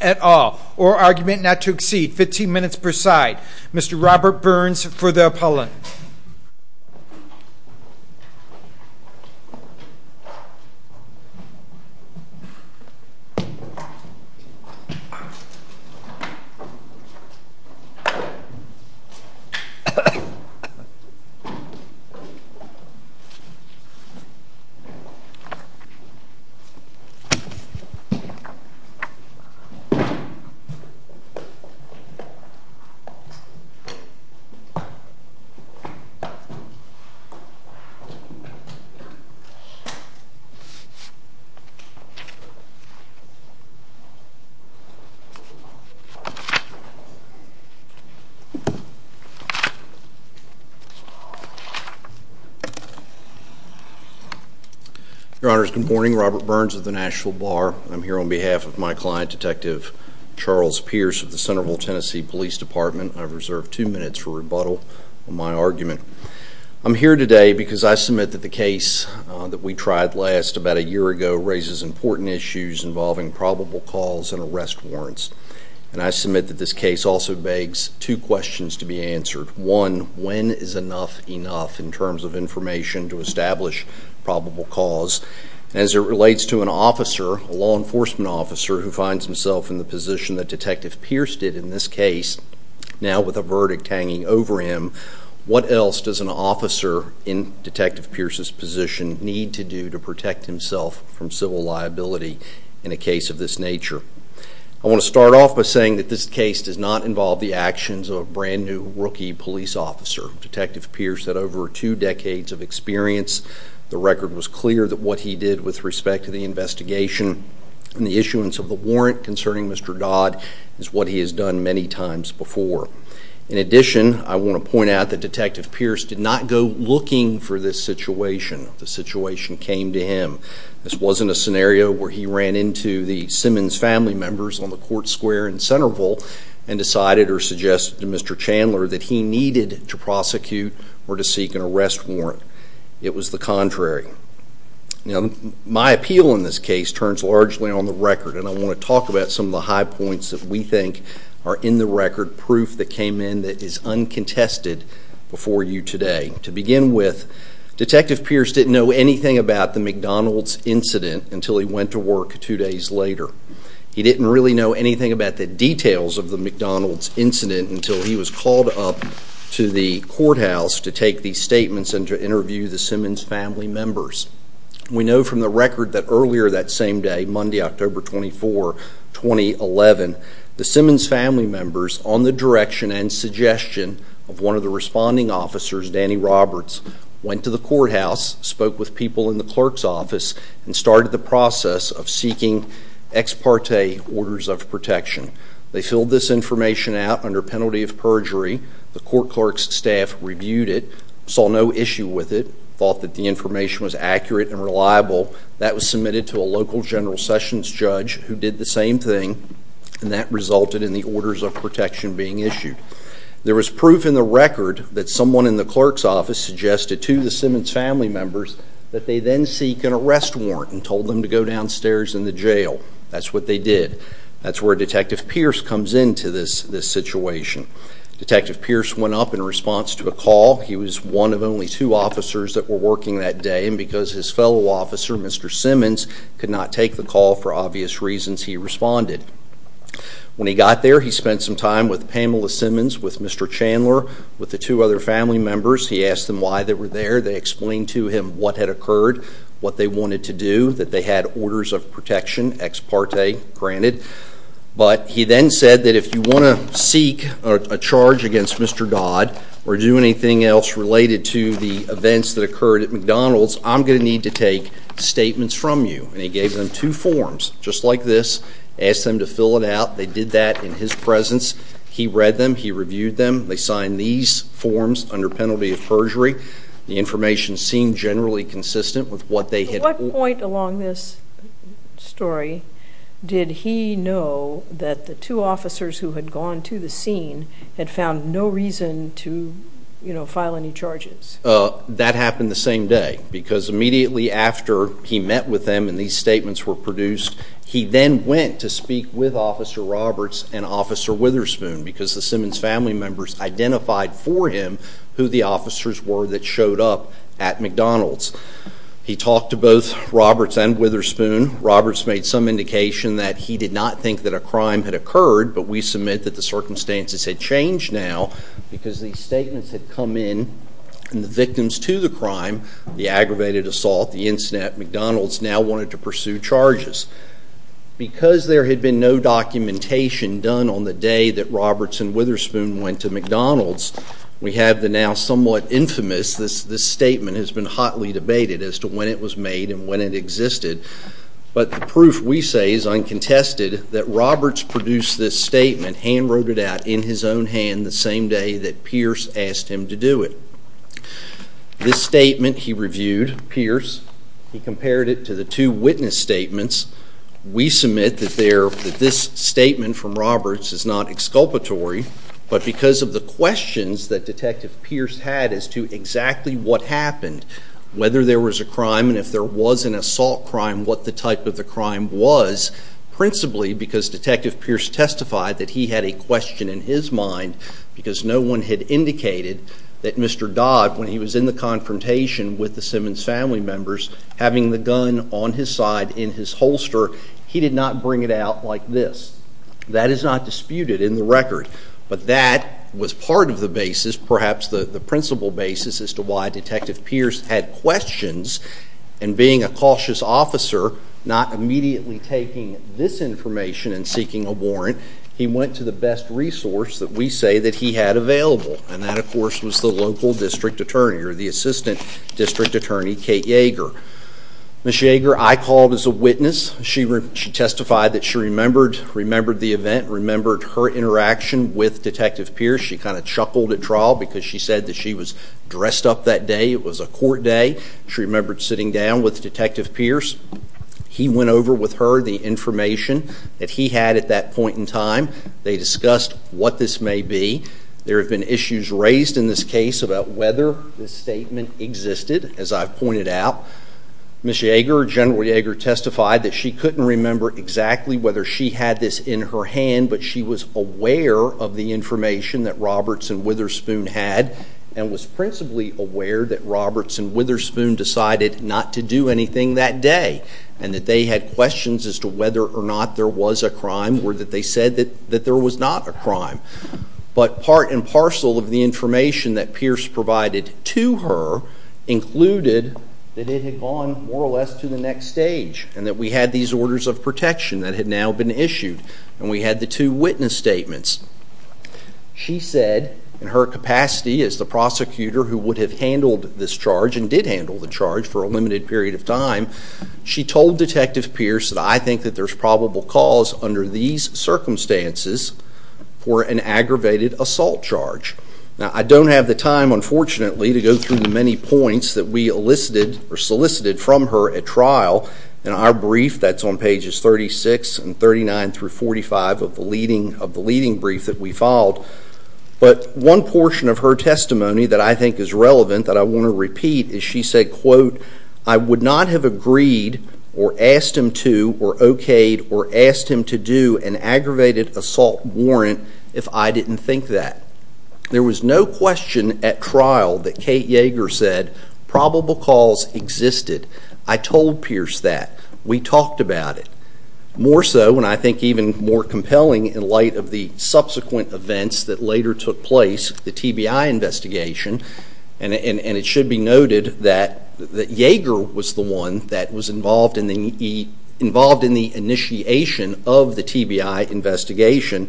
at all, or argument not to exceed 15 minutes per side. Mr. Robert Burns for the appellant. Thank you, Mr. Burns. Your Honors, good morning. Robert Burns of the Nashville Bar. I'm here on behalf of my client, Detective Charles Pierce of the Centreville, Tennessee Police Department. I've reserved two minutes for rebuttal on my argument. I'm here today because I submit that the case that we tried last, about a year ago, raises important issues involving probable cause and arrest warrants. And I submit that this case also begs two questions to be answered. One, when is enough enough in terms of information to establish probable cause? As it relates to an officer, a law enforcement officer, who finds himself in the position that Detective Pierce did in this case, now with a verdict hanging over him, what else does an officer in Detective Pierce's position need to do to protect himself from civil liability in a case of this nature? I want to start off by saying that this case does not involve the actions of a brand new rookie police officer. Detective Pierce had over two decades of experience. The record was clear that what he did with respect to the investigation and the issuance of the warrant concerning Mr. Dodd is what he has done many times before. In addition, I want to point out that Detective Pierce did not go looking for this situation. The situation came to him. This wasn't a scenario where he ran into the Simmons family members on the court square in Centreville and decided or suggested to Mr. Chandler that he needed to prosecute or to seek an arrest warrant. It was the contrary. My appeal in this case turns largely on the record, and I want to talk about some of the high points that we think are in the record, proof that came in that is uncontested before you today. To begin with, Detective Pierce didn't know anything about the McDonald's incident until he went to work two days later. He didn't really know anything about the details of the McDonald's incident until he was called up to the courthouse to take these statements and to interview the Simmons family members. We know from the record that earlier that same day, Monday, October 24, 2011, the Simmons family members, on the direction and suggestion of one of the responding officers, Danny Roberts, went to the courthouse, spoke with people in the clerk's office, and started the process of seeking ex parte orders of protection. They filled this information out under penalty of perjury. The court clerk's staff reviewed it, saw no issue with it, thought that the information was accurate and reliable. That was submitted to a local General Sessions judge who did the same thing, and that resulted in the orders of protection being issued. There was proof in the record that someone in the clerk's office suggested to the Simmons family members that they then seek an arrest warrant and told them to go downstairs in the jail. That's what they did. That's where Detective Pierce comes into this situation. Detective Pierce went up in response to a call. He was one of only two officers that were working that day, and because his fellow officer, Mr. Simmons, could not take the call for obvious reasons, he responded. When he got there, he spent some time with Pamela Simmons, with Mr. Chandler, with the two other family members. He asked them why they were there. They explained to him what had occurred, what they wanted to do, that they had orders of protection, ex parte, granted. But he then said that if you want to seek a charge against Mr. Dodd, or do anything else related to the events that occurred at McDonald's, I'm going to need to take statements from you. And he gave them two forms, just like this, asked them to fill it out. They did that in his presence. He read them. He reviewed them. They signed these forms under penalty of perjury. The information seemed generally consistent with what they had ordered. At what point along this story did he know that the two officers who had gone to the scene had found no reason to file any charges? That happened the same day, because immediately after he met with them and these statements were produced, he then went to speak with Officer Roberts and Officer Witherspoon, because the Simmons family members identified for him who the officers were that showed up at McDonald's. He talked to both Roberts and Witherspoon. Roberts made some indication that he did not think that a crime had occurred, but we submit that the circumstances had changed now, because these statements had come in, and the victims to the crime, the aggravated assault, the incident at McDonald's, now wanted to pursue charges. Because there had been no documentation done on the day that Roberts and Witherspoon went to McDonald's, we have the now somewhat infamous, this statement has been hotly debated as to when it was made and when it existed. But the proof, we say, is uncontested that Roberts produced this statement, hand-wrote it out in his own hand, the same day that Pierce asked him to do it. This statement he reviewed, Pierce, he compared it to the two witness statements. We submit that this statement from Roberts is not exculpatory, but because of the questions that Detective Pierce had as to exactly what happened, whether there was a crime, and if there was an assault crime, what the type of the crime was, principally because Detective Pierce testified that he had a question in his mind, because no one had indicated that Mr. Dodd, when he was in the confrontation with the Simmons family members, having the gun on his side in his holster, he did not bring it out like this. That is not disputed in the record, but that was part of the basis, perhaps the principal basis, as to why Detective Pierce had questions, and being a cautious officer, not immediately taking this information and seeking a warrant, he went to the best resource that we say that he had available. And that, of course, was the local district attorney, or the assistant district attorney, Kate Yeager. Ms. Yeager, I called as a witness. She testified that she remembered the event, remembered her interaction with Detective Pierce. She kind of chuckled at trial, because she said that she was dressed up that day. It was a court day. She remembered sitting down with Detective Pierce. He went over with her the information that he had at that point in time. They discussed what this may be. There have been issues raised in this case about whether this statement existed, as I've pointed out. Ms. Yeager, General Yeager testified that she couldn't remember exactly whether she had this in her hand, but she was aware of the information that Roberts and Witherspoon had, and was principally aware that Roberts and Witherspoon decided not to do anything that day, and that they had questions as to whether or not there was a crime, or that they said that there was not a crime. But part and parcel of the information that Pierce provided to her included that it had gone, more or less, to the next stage, and that we had these orders of protection that had now been issued, and we had the two witness statements. She said, in her capacity as the prosecutor who would have handled this charge, and did handle the charge for a limited period of time, she told Detective Pierce that, I think that there's probable cause under these circumstances for an aggravated assault charge. Now, I don't have the time, unfortunately, to go through the many points that we solicited from her at trial in our brief that's on pages 36 and 39 through 45 of the leading brief that we filed. But one portion of her testimony that I think is relevant, that I want to repeat, is she said, quote, I would not have agreed, or asked him to, or okayed, or asked him to do an aggravated assault warrant if I didn't think that. There was no question at trial that Kate Yeager said probable cause existed. I told Pierce that. We talked about it. More so, and I think even more compelling in light of the subsequent events that later took place, the TBI investigation, and it should be noted that Yeager was the one that was involved in the initiation of the TBI investigation.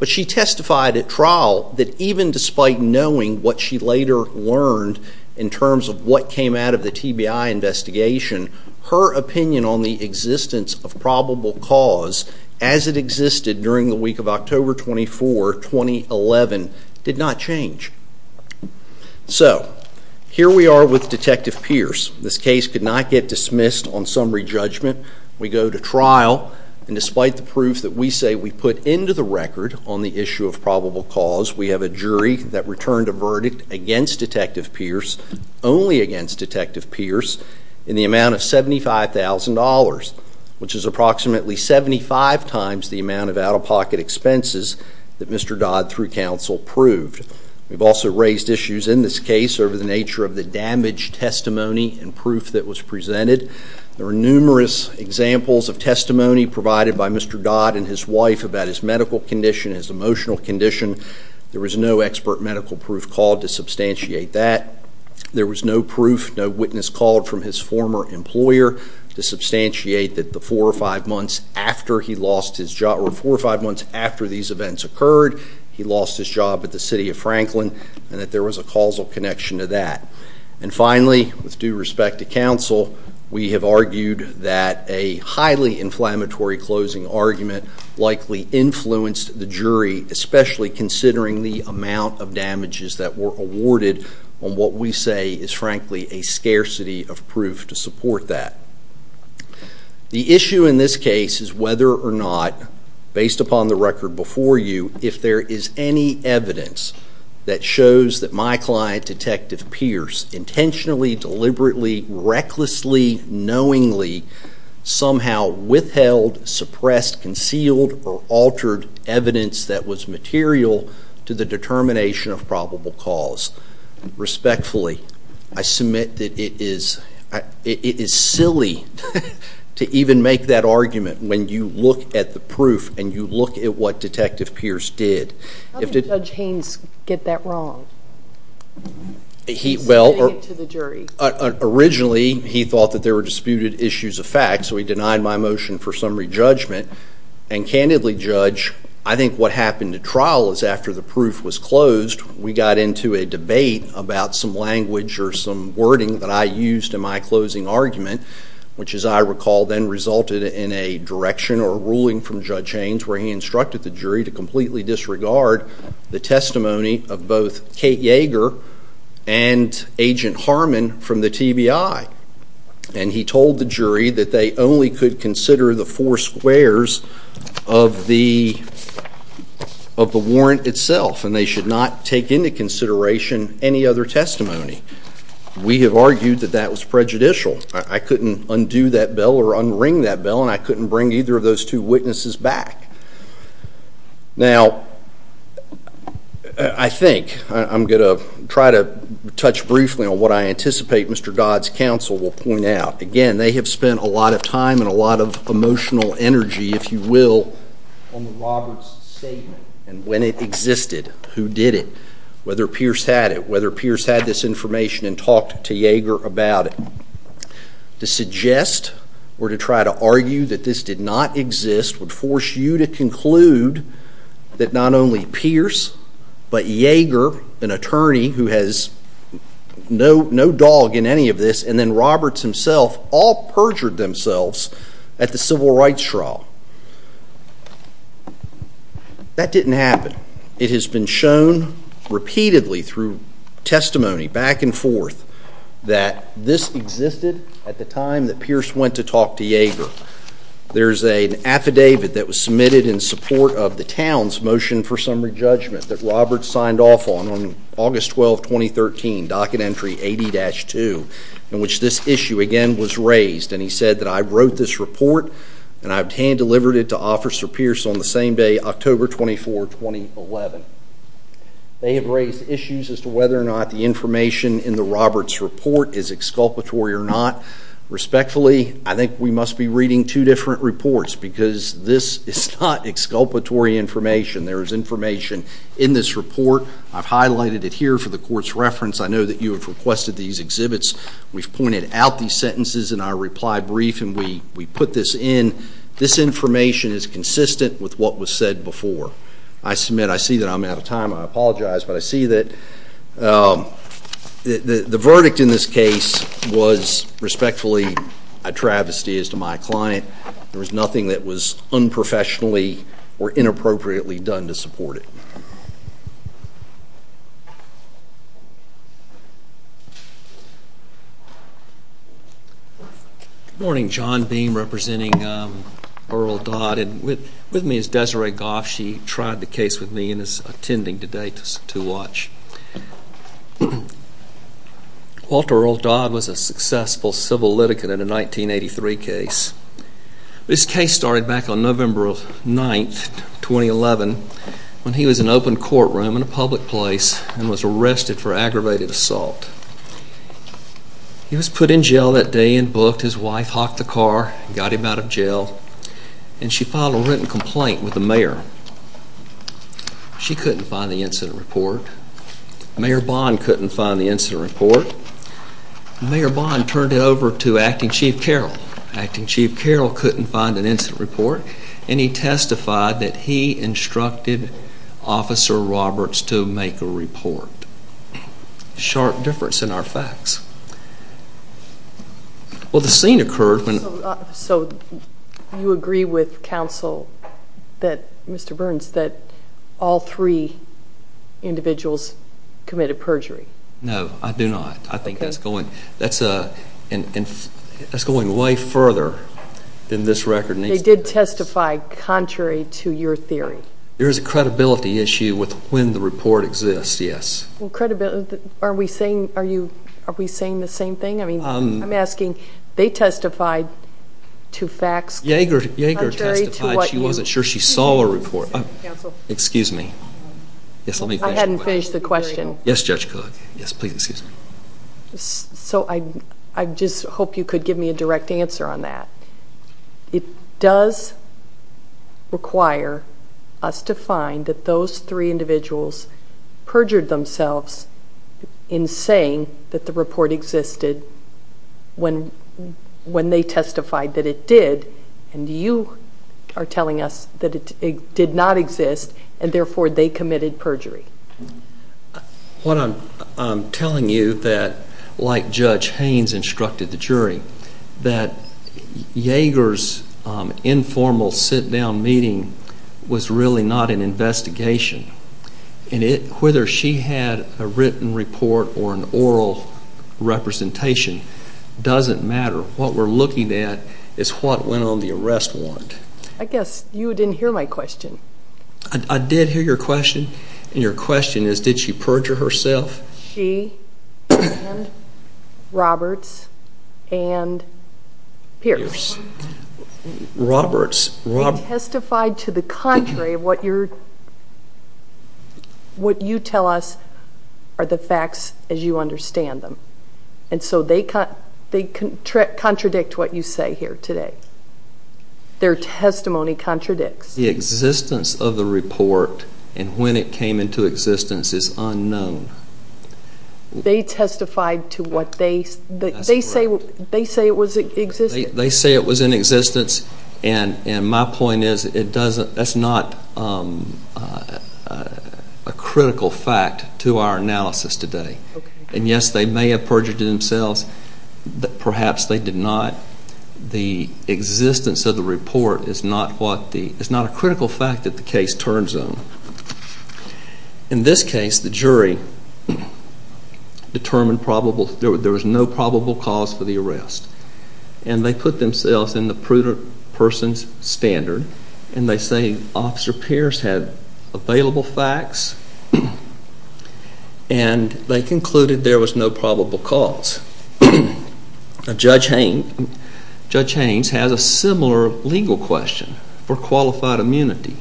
But she testified at trial that even despite knowing what she later learned in terms of what came out of the TBI investigation, her opinion on the existence of probable cause as it existed during the week of October 24, 2011, did not change. So, here we are with Detective Pierce. This case could not get dismissed on summary judgment. We go to trial, and despite the proof that we say we put into the record on the issue of probable cause, we have a jury that returned a verdict against Detective Pierce, only against Detective Pierce, in the amount of $75,000, which is approximately 75 times the amount of out-of-pocket expenses that Mr. Dodd, through counsel, proved. We've also raised issues in this case over the nature of the damaged testimony and proof that was presented. There were numerous examples of testimony provided by Mr. Dodd and his wife about his medical condition, his emotional condition. There was no expert medical proof called to substantiate that. There was no proof, no witness called from his former employer to substantiate that the four or five months after he lost his job, or four or five months after these events occurred, he lost his job at the City of Franklin, and that there was a causal connection to that. And finally, with due respect to counsel, we have argued that a highly inflammatory closing argument likely influenced the jury, especially considering the amount of damages that were awarded on what we say is, frankly, a scarcity of proof to support that. The issue in this case is whether or not, based upon the record before you, if there is any evidence that shows that my client, Detective Pierce, intentionally, deliberately, recklessly, knowingly, somehow withheld, suppressed, concealed, or altered evidence that was material to the determination of probable cause. Respectfully, I submit that it is silly to even make that argument when you look at the proof and you look at what Detective Pierce did. How did Judge Haynes get that wrong? Well, originally, he thought that there were disputed issues of fact, so he denied my motion for summary judgment. And candidly, Judge, I think what happened at trial is after the proof was closed, we got into a debate about some language or some wording that I used in my closing argument, which, as I recall, then resulted in a direction or a ruling from Judge Haynes where he instructed the jury to completely disregard the testimony of both Kate Yeager and Agent Harmon from the TBI. And he told the jury that they only could consider the four squares of the warrant itself, and they should not take into consideration any other testimony. We have argued that that was prejudicial. I couldn't undo that bill or unring that bill, and I couldn't bring either of those two witnesses back. Now, I think I'm going to try to touch briefly on what I anticipate Mr. Dodd's counsel will point out. Again, they have spent a lot of time and a lot of emotional energy, if you will, on the Roberts statement and when it existed, who did it, whether Pierce had it, whether Pierce had this information and talked to Yeager about it. To suggest or to try to argue that this did not exist would force you to conclude that not only Pierce but Yeager, an attorney who has no dog in any of this, and then Roberts himself all perjured themselves at the civil rights trial. That didn't happen. It has been shown repeatedly through testimony back and forth that this existed at the time that Pierce went to talk to Yeager. There's an affidavit that was submitted in support of the town's motion for summary judgment that Roberts signed off on August 12, 2013, Docket Entry 80-2, in which this issue again was raised. And he said that I wrote this report and I hand-delivered it to Officer Pierce on the same day, October 24, 2011. They have raised issues as to whether or not the information in the Roberts report is exculpatory or not. Respectfully, I think we must be reading two different reports because this is not exculpatory information. There is information in this report. I've highlighted it here for the Court's reference. I know that you have requested these exhibits. We've pointed out these sentences in our reply brief and we put this in. This information is consistent with what was said before. I submit I see that I'm out of time. I apologize, but I see that the verdict in this case was, respectfully, a travesty as to my client. There was nothing that was unprofessionally or inappropriately done to support it. Good morning. John Beam representing Earl Dodd. With me is Desiree Goff. She tried the case with me and is attending today to watch. Walter Earl Dodd was a successful civil litigant in a 1983 case. This case started back on November 9, 2011, when he was in an open courtroom in a public place and was arrested for aggravated assault. He was put in jail that day and booked. His wife hocked the car and got him out of jail. She filed a written complaint with the mayor. She couldn't find the incident report. Mayor Bond couldn't find the incident report. Mayor Bond turned it over to Acting Chief Carroll. Acting Chief Carroll couldn't find an incident report. He testified that he instructed Officer Roberts to make a report. Sharp difference in our facts. Well, the scene occurred when... So you agree with counsel, Mr. Burns, that all three individuals committed perjury? No, I do not. I think that's going way further than this record needs to go. They did testify contrary to your theory. There is a credibility issue with when the report exists, yes. Are we saying the same thing? I'm asking, they testified to facts contrary to what you... Yeager testified. She wasn't sure she saw a report. Excuse me. Yes, let me finish the question. I hadn't finished the question. Yes, Judge Cook. Yes, please, excuse me. So I just hope you could give me a direct answer on that. It does require us to find that those three individuals perjured themselves in saying that the report existed when they testified that it did. And you are telling us that it did not exist, and therefore they committed perjury. What I'm telling you that, like Judge Haynes instructed the jury, that Yeager's informal sit-down meeting was really not an investigation, and whether she had a written report or an oral representation doesn't matter. What we're looking at is what went on the arrest warrant. I guess you didn't hear my question. I did hear your question, and your question is, did she perjure herself? She and Roberts and Pierce. Roberts. They testified to the contrary of what you tell us are the facts as you understand them. And so they contradict what you say here today. Their testimony contradicts. The existence of the report and when it came into existence is unknown. They testified to what they say was in existence. They say it was in existence, and my point is that's not a critical fact to our analysis today. And, yes, they may have perjured themselves. Perhaps they did not. The existence of the report is not a critical fact that the case turns on. In this case, the jury determined there was no probable cause for the arrest, and they put themselves in the prudent person's standard, and they say Officer Pierce had available facts, and they concluded there was no probable cause. Judge Haynes has a similar legal question for qualified immunity.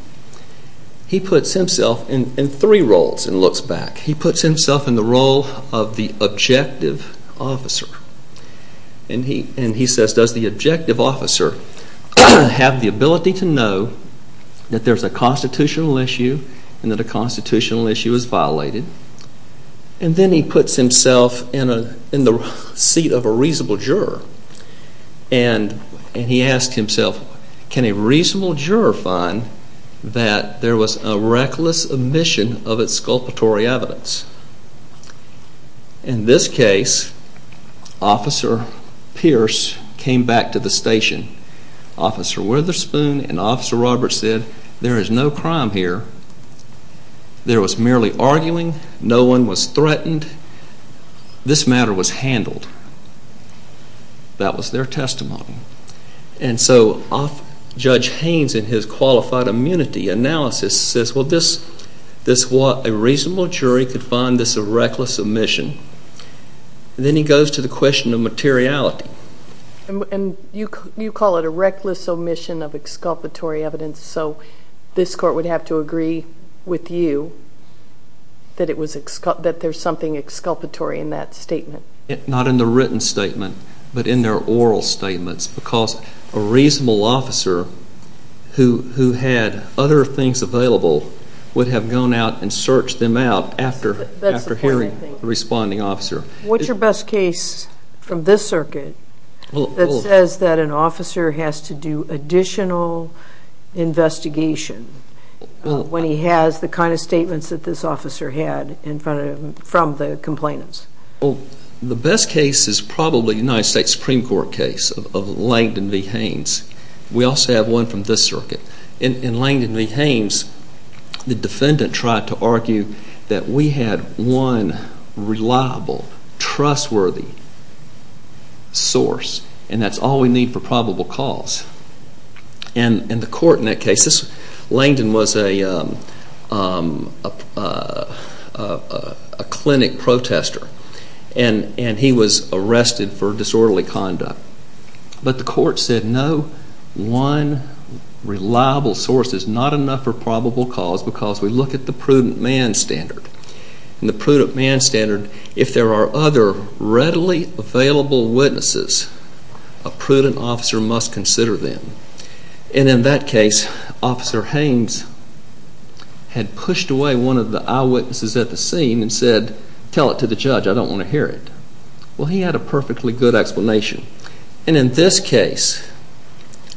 He puts himself in three roles and looks back. He puts himself in the role of the objective officer, and he says, does the objective officer have the ability to know that there's a constitutional issue and that a constitutional issue is violated? And then he puts himself in the seat of a reasonable juror, and he asks himself, can a reasonable juror find that there was a reckless omission of its sculptory evidence? In this case, Officer Pierce came back to the station, Officer Witherspoon and Officer Roberts said, there is no crime here. There was merely arguing. No one was threatened. This matter was handled. That was their testimony. And so Judge Haynes, in his qualified immunity analysis, says, well, a reasonable jury could find this a reckless omission. Then he goes to the question of materiality. And you call it a reckless omission of exculpatory evidence, so this court would have to agree with you that there's something exculpatory in that statement. Not in the written statement, but in their oral statements, because a reasonable officer who had other things available would have gone out and searched them out after hearing the responding officer. What's your best case from this circuit that says that an officer has to do additional investigation when he has the kind of statements that this officer had from the complainants? The best case is probably a United States Supreme Court case of Langdon v. Haynes. In Langdon v. Haynes, the defendant tried to argue that we had one reliable, trustworthy source, and that's all we need for probable cause. And the court in that case, Langdon was a clinic protester, and he was arrested for disorderly conduct. But the court said no, one reliable source is not enough for probable cause because we look at the prudent man standard. And the prudent man standard, if there are other readily available witnesses, a prudent officer must consider them. And in that case, Officer Haynes had pushed away one of the eyewitnesses at the scene and said, tell it to the judge, I don't want to hear it. Well, he had a perfectly good explanation. And in this case,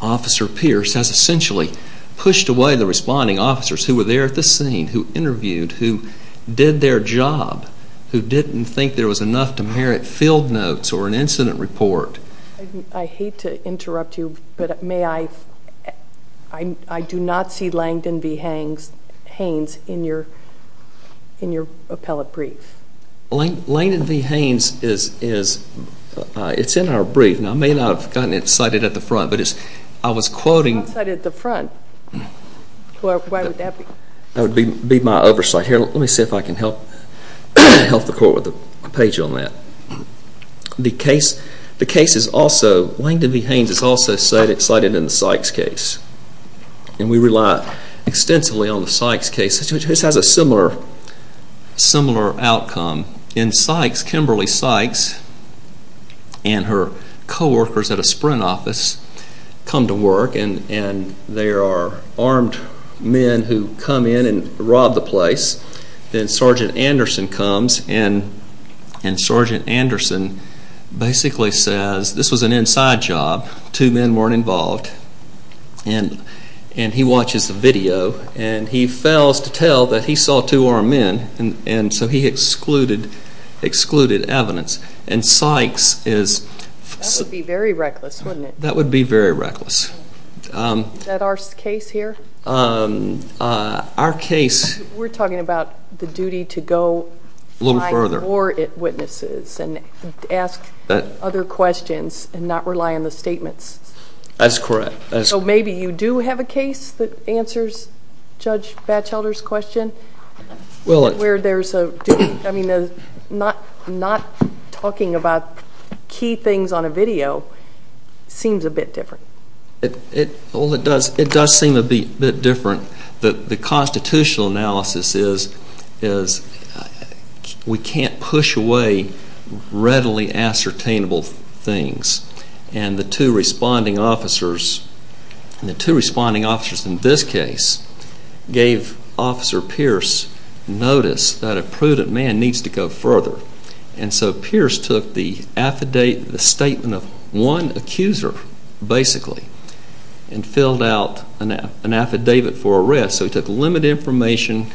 Officer Pierce has essentially pushed away the responding officers who were there at the scene, who interviewed, who did their job, who didn't think there was enough to merit field notes or an incident report. I hate to interrupt you, but I do not see Langdon v. Haynes in your appellate brief. Langdon v. Haynes is in our brief. Now, I may not have gotten it cited at the front, but I was quoting. Not cited at the front. Why would that be? That would be my oversight here. Let me see if I can help the court with a page on that. The case is also, Langdon v. Haynes is also cited in the Sykes case. And we rely extensively on the Sykes case. This has a similar outcome. In Sykes, Kimberly Sykes and her coworkers at a Sprint office come to work, and there are armed men who come in and rob the place. Then Sergeant Anderson comes, and Sergeant Anderson basically says, this was an inside job, two men weren't involved, and he watches the video, and he fails to tell that he saw two armed men, and so he excluded evidence. And Sykes is... That would be very reckless, wouldn't it? That would be very reckless. Is that our case here? Our case... We're talking about the duty to go... A little further. Find more witnesses and ask other questions and not rely on the statements. That's correct. So maybe you do have a case that answers Judge Batchelder's question, where there's a duty... I mean, not talking about key things on a video seems a bit different. Well, it does seem a bit different. The constitutional analysis is we can't push away readily ascertainable things. And the two responding officers in this case gave Officer Pierce notice that a prudent man needs to go further. And so Pierce took the statement of one accuser, basically, and filled out an affidavit for arrest. So he took limited information,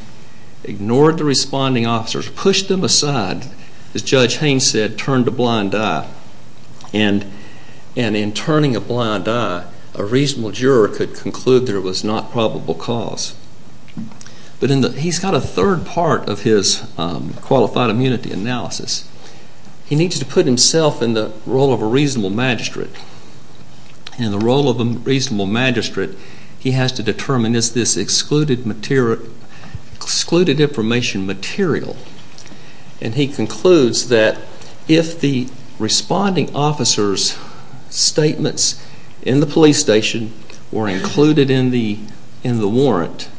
ignored the responding officers, pushed them aside, as Judge Haines said, turned a blind eye. And in turning a blind eye, a reasonable juror could conclude there was not probable cause. But he's got a third part of his qualified immunity analysis. He needs to put himself in the role of a reasonable magistrate. And the role of a reasonable magistrate, he has to determine, is this excluded information material? And he concludes that if the responding officers' statements in the police station were included in the warrant,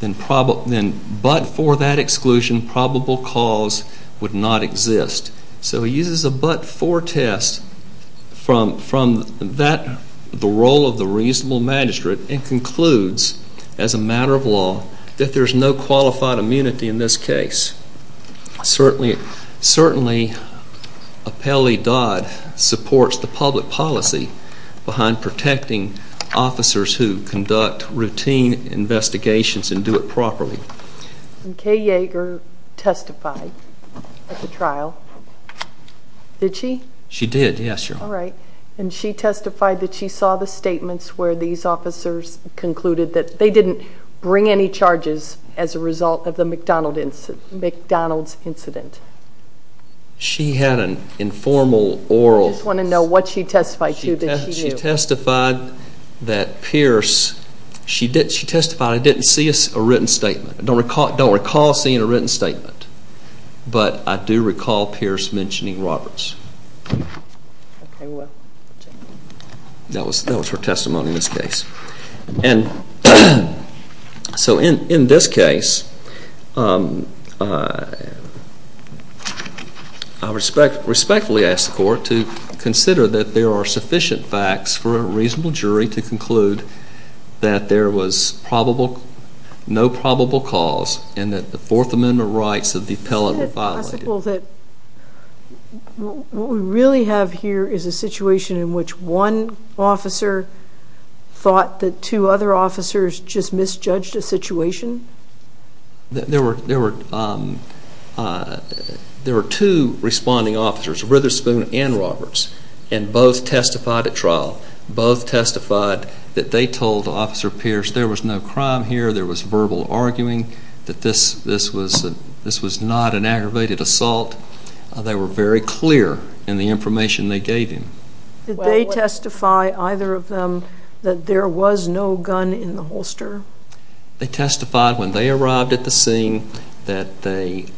then but for that exclusion, probable cause would not exist. So he uses a but-for test from the role of the reasonable magistrate and concludes, as a matter of law, that there's no qualified immunity in this case. Certainly, Appellee Dodd supports the public policy behind protecting officers who conduct routine investigations and do it properly. And Kay Yeager testified at the trial. Did she? She did, yes, Your Honor. All right. And she testified that she saw the statements where these officers concluded that they didn't bring any charges as a result of the McDonald's incident. She had an informal oral... I just want to know what she testified to that she knew. She testified that Pierce... She testified, I didn't see a written statement. I don't recall seeing a written statement, but I do recall Pierce mentioning Roberts. Okay, well... That was her testimony in this case. And so in this case, I respectfully ask the court to consider that there are sufficient facts for a reasonable jury to conclude that there was no probable cause and that the Fourth Amendment rights of the appellate were violated. Is it possible that what we really have here is a situation in which one officer thought that two other officers just misjudged a situation? There were two responding officers, Ritherspoon and Roberts, and both testified at trial. Both testified that they told Officer Pierce there was no crime here, there was verbal arguing, that this was not an aggravated assault. They were very clear in the information they gave him. Did they testify, either of them, that there was no gun in the holster? They testified when they arrived at the scene that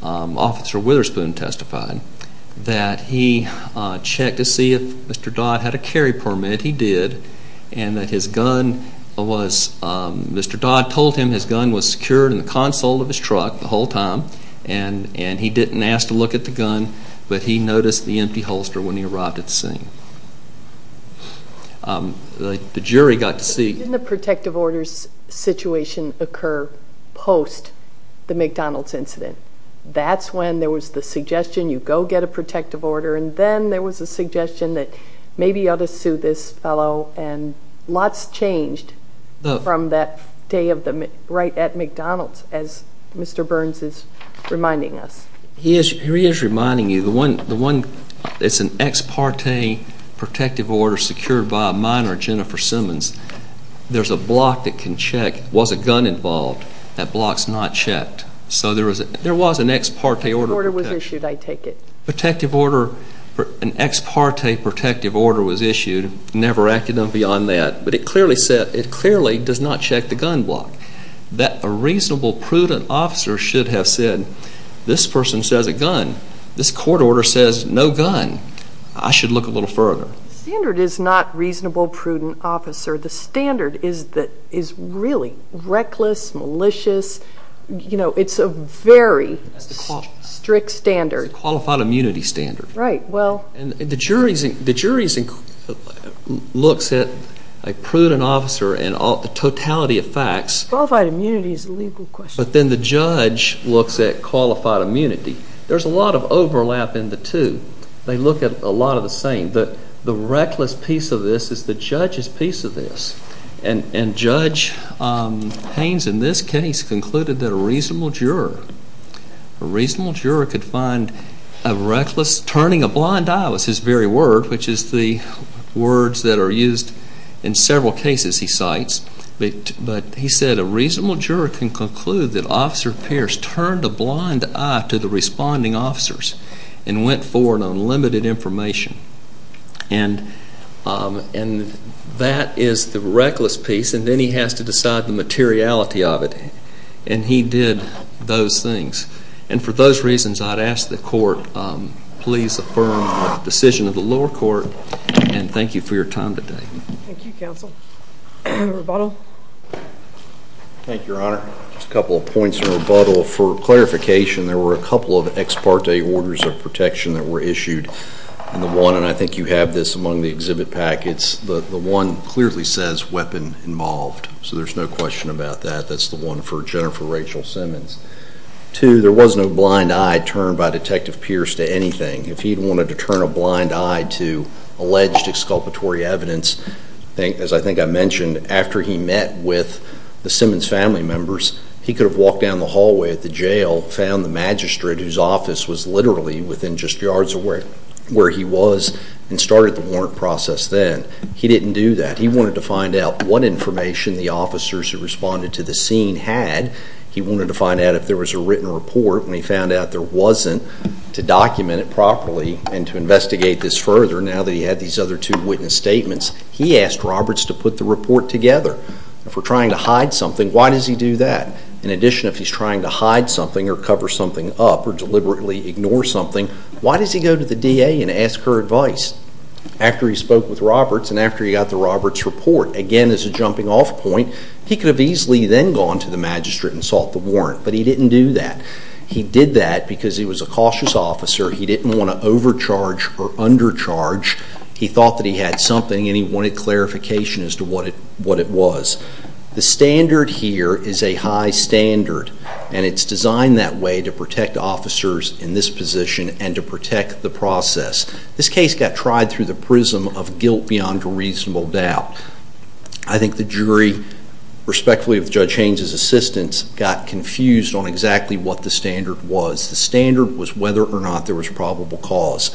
Officer Witherspoon testified that he checked to see if Mr. Dodd had a carry permit. He did, and that his gun was... Mr. Dodd told him his gun was secured in the console of his truck the whole time, and he didn't ask to look at the gun, but he noticed the empty holster when he arrived at the scene. The jury got to see... Didn't the protective orders situation occur post the McDonald's incident? That's when there was the suggestion, you go get a protective order, and then there was a suggestion that maybe you ought to sue this fellow, and lots changed from that day right at McDonald's, as Mr. Burns is reminding us. He is reminding you, it's an ex parte protective order secured by a minor, Jennifer Simmons. There's a block that can check, was a gun involved? That block's not checked. There was an ex parte order. The order was issued, I take it. An ex parte protective order was issued, never acted on beyond that, but it clearly does not check the gun block. That a reasonable, prudent officer should have said, this person says a gun, this court order says no gun, I should look a little further. The standard is not reasonable, prudent officer. The standard is really reckless, malicious. It's a very strict standard. It's a qualified immunity standard. The jury looks at a prudent officer and the totality of facts. Qualified immunity is a legal question. But then the judge looks at qualified immunity. There's a lot of overlap in the two. They look at a lot of the same. The reckless piece of this is the judge's piece of this. And Judge Haynes in this case concluded that a reasonable juror, a reasonable juror could find a reckless, turning a blind eye was his very word, which is the words that are used in several cases he cites. But he said a reasonable juror can conclude that Officer Pierce turned a blind eye to the responding officers and went forward on limited information. And that is the reckless piece, and then he has to decide the materiality of it. And he did those things. And for those reasons, I'd ask the court, please affirm the decision of the lower court, and thank you for your time today. Thank you, Counsel. Any rebuttal? Thank you, Your Honor. Just a couple of points of rebuttal. First of all, for clarification, there were a couple of ex parte orders of protection that were issued. And I think you have this among the exhibit packets. The one clearly says weapon involved, so there's no question about that. That's the one for Jennifer Rachel Simmons. Two, there was no blind eye turned by Detective Pierce to anything. If he had wanted to turn a blind eye to alleged exculpatory evidence, as I think I mentioned, after he met with the Simmons family members, he could have walked down the hallway at the jail, found the magistrate whose office was literally within just yards of where he was, and started the warrant process then. He didn't do that. He wanted to find out what information the officers who responded to the scene had. He wanted to find out if there was a written report, and he found out there wasn't. To document it properly and to investigate this further, now that he had these other two witness statements, he asked Roberts to put the report together. If we're trying to hide something, why does he do that? In addition, if he's trying to hide something or cover something up or deliberately ignore something, why does he go to the DA and ask her advice? After he spoke with Roberts and after he got the Roberts report, again as a jumping off point, he could have easily then gone to the magistrate and sought the warrant, but he didn't do that. He did that because he was a cautious officer. He didn't want to overcharge or undercharge. He thought that he had something and he wanted clarification as to what it was. The standard here is a high standard, and it's designed that way to protect officers in this position and to protect the process. This case got tried through the prism of guilt beyond a reasonable doubt. I think the jury, respectfully with Judge Haynes' assistance, got confused on exactly what the standard was. The standard was whether or not there was probable cause.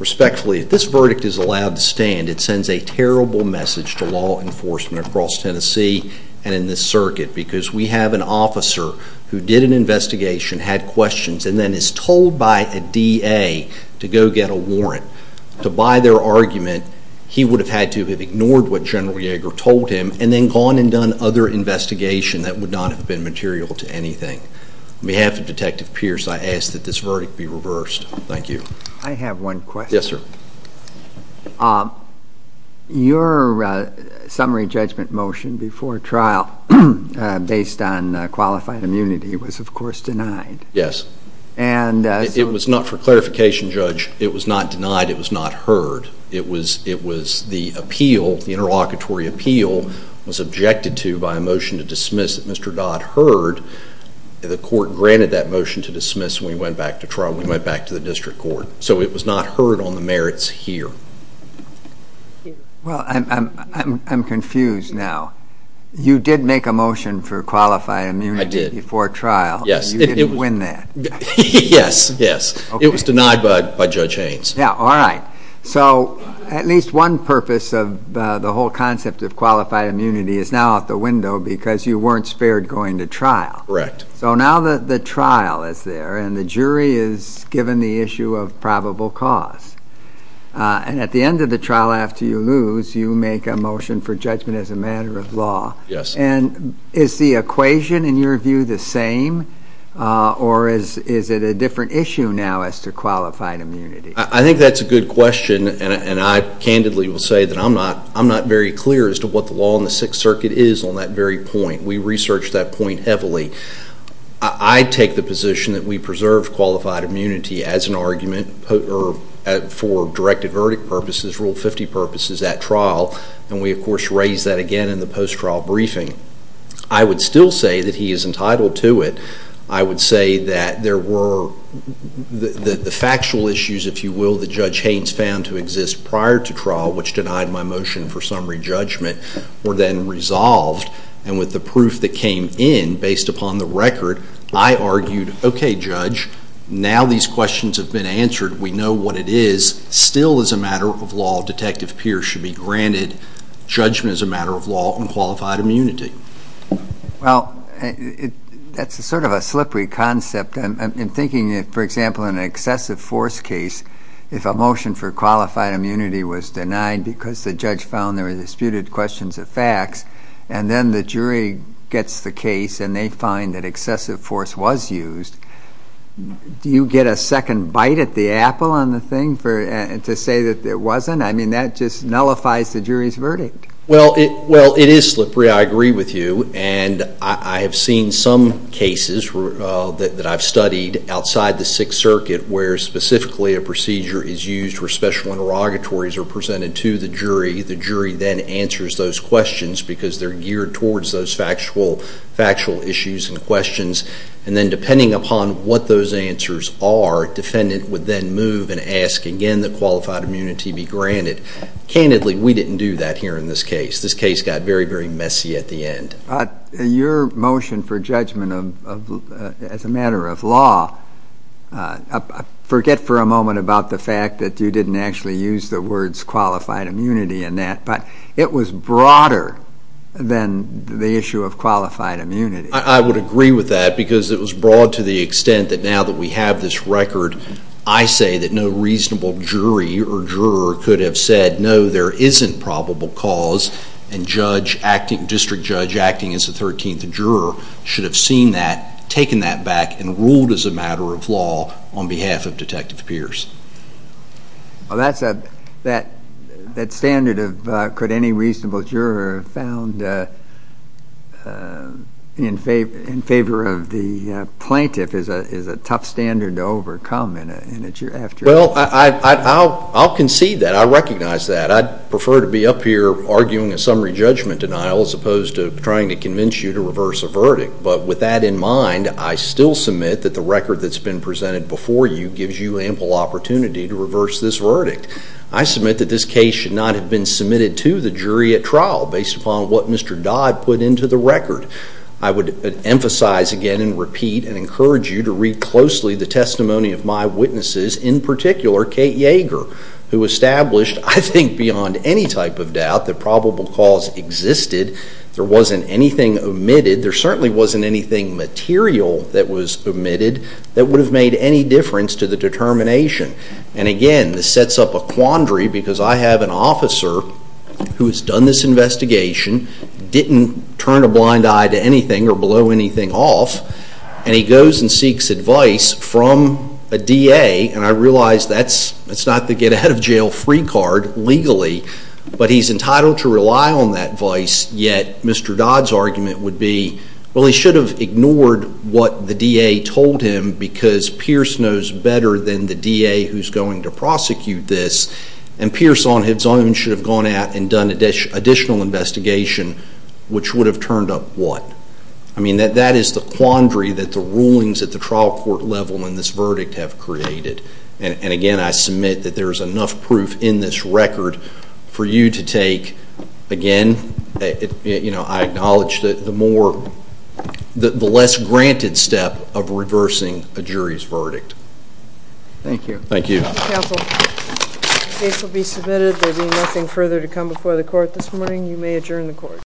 Respectfully, if this verdict is allowed to stand, it sends a terrible message to law enforcement across Tennessee and in this circuit because we have an officer who did an investigation, had questions, and then is told by a DA to go get a warrant. To buy their argument, he would have had to have ignored what General Yeager told him and then gone and done other investigation that would not have been material to anything. On behalf of Detective Pierce, I ask that this verdict be reversed. Thank you. I have one question. Yes, sir. Your summary judgment motion before trial based on qualified immunity was, of course, denied. Yes. It was not for clarification, Judge. It was not denied. It was not heard. It was the appeal, the interlocutory appeal, was objected to by a motion to dismiss that Mr. Dodd heard. The court granted that motion to dismiss, and we went back to trial, we went back to the district court. So it was not heard on the merits here. Well, I'm confused now. You did make a motion for qualified immunity before trial. Yes. You didn't win that. Yes, yes. It was denied by Judge Haynes. Yeah, all right. So at least one purpose of the whole concept of qualified immunity is now out the window because you weren't spared going to trial. Correct. So now the trial is there, and the jury is given the issue of probable cause. And at the end of the trial after you lose, you make a motion for judgment as a matter of law. Yes. And is the equation, in your view, the same, or is it a different issue now as to qualified immunity? I think that's a good question, and I candidly will say that I'm not very clear as to what the law in the Sixth Circuit is on that very point. We researched that point heavily. I take the position that we preserve qualified immunity as an argument for directive verdict purposes, Rule 50 purposes at trial, and we, of course, raise that again in the post-trial briefing. I would still say that he is entitled to it. I would say that there were the factual issues, if you will, that Judge Haynes found to exist prior to trial, which denied my motion for summary judgment, were then resolved. And with the proof that came in based upon the record, I argued, okay, Judge, now these questions have been answered. We know what it is. Still, as a matter of law, Detective Pierce should be granted judgment as a matter of law on qualified immunity. Well, that's sort of a slippery concept. I'm thinking, for example, in an excessive force case, if a motion for qualified immunity was denied because the judge found there were disputed questions of facts and then the jury gets the case and they find that excessive force was used, do you get a second bite at the apple on the thing to say that it wasn't? I mean, that just nullifies the jury's verdict. Well, it is slippery. I agree with you. And I have seen some cases that I've studied outside the Sixth Circuit where specifically a procedure is used where special interrogatories are presented to the jury. The jury then answers those questions because they're geared towards those factual issues and questions. And then depending upon what those answers are, defendant would then move and ask again that qualified immunity be granted. Candidly, we didn't do that here in this case. This case got very, very messy at the end. Your motion for judgment as a matter of law, but it was broader than the issue of qualified immunity. I would agree with that because it was broad to the extent that now that we have this record, I say that no reasonable jury or juror could have said, no, there isn't probable cause and district judge acting as the 13th juror should have seen that, taken that back, and ruled as a matter of law on behalf of Detective Pierce. Well, that standard of could any reasonable juror have found in favor of the plaintiff is a tough standard to overcome in a jury. Well, I'll concede that. I recognize that. I'd prefer to be up here arguing a summary judgment denial as opposed to trying to convince you to reverse a verdict. But with that in mind, I still submit that the record that's been presented before you gives you ample opportunity to reverse this verdict. I submit that this case should not have been submitted to the jury at trial based upon what Mr. Dodd put into the record. I would emphasize again and repeat and encourage you to read closely the testimony of my witnesses, in particular Kate Yeager, who established, I think beyond any type of doubt, that probable cause existed. There wasn't anything omitted. There certainly wasn't anything material that was omitted that would have made any difference to the determination. And again, this sets up a quandary because I have an officer who has done this investigation, didn't turn a blind eye to anything or blow anything off, and he goes and seeks advice from a DA, and I realize that's not the get-ahead-of-jail-free card legally, but he's entitled to rely on that advice, yet Mr. Dodd's argument would be, well, he should have ignored what the DA told him because Pierce knows better than the DA who's going to prosecute this, and Pierce on his own should have gone out and done additional investigation, which would have turned up what? I mean, that is the quandary that the rulings at the trial court level in this verdict have created. And again, I submit that there is enough proof in this record for you to take. Again, I acknowledge the less granted step of reversing a jury's verdict. Thank you. Thank you. Counsel, the case will be submitted. There will be nothing further to come before the court this morning. You may adjourn the court.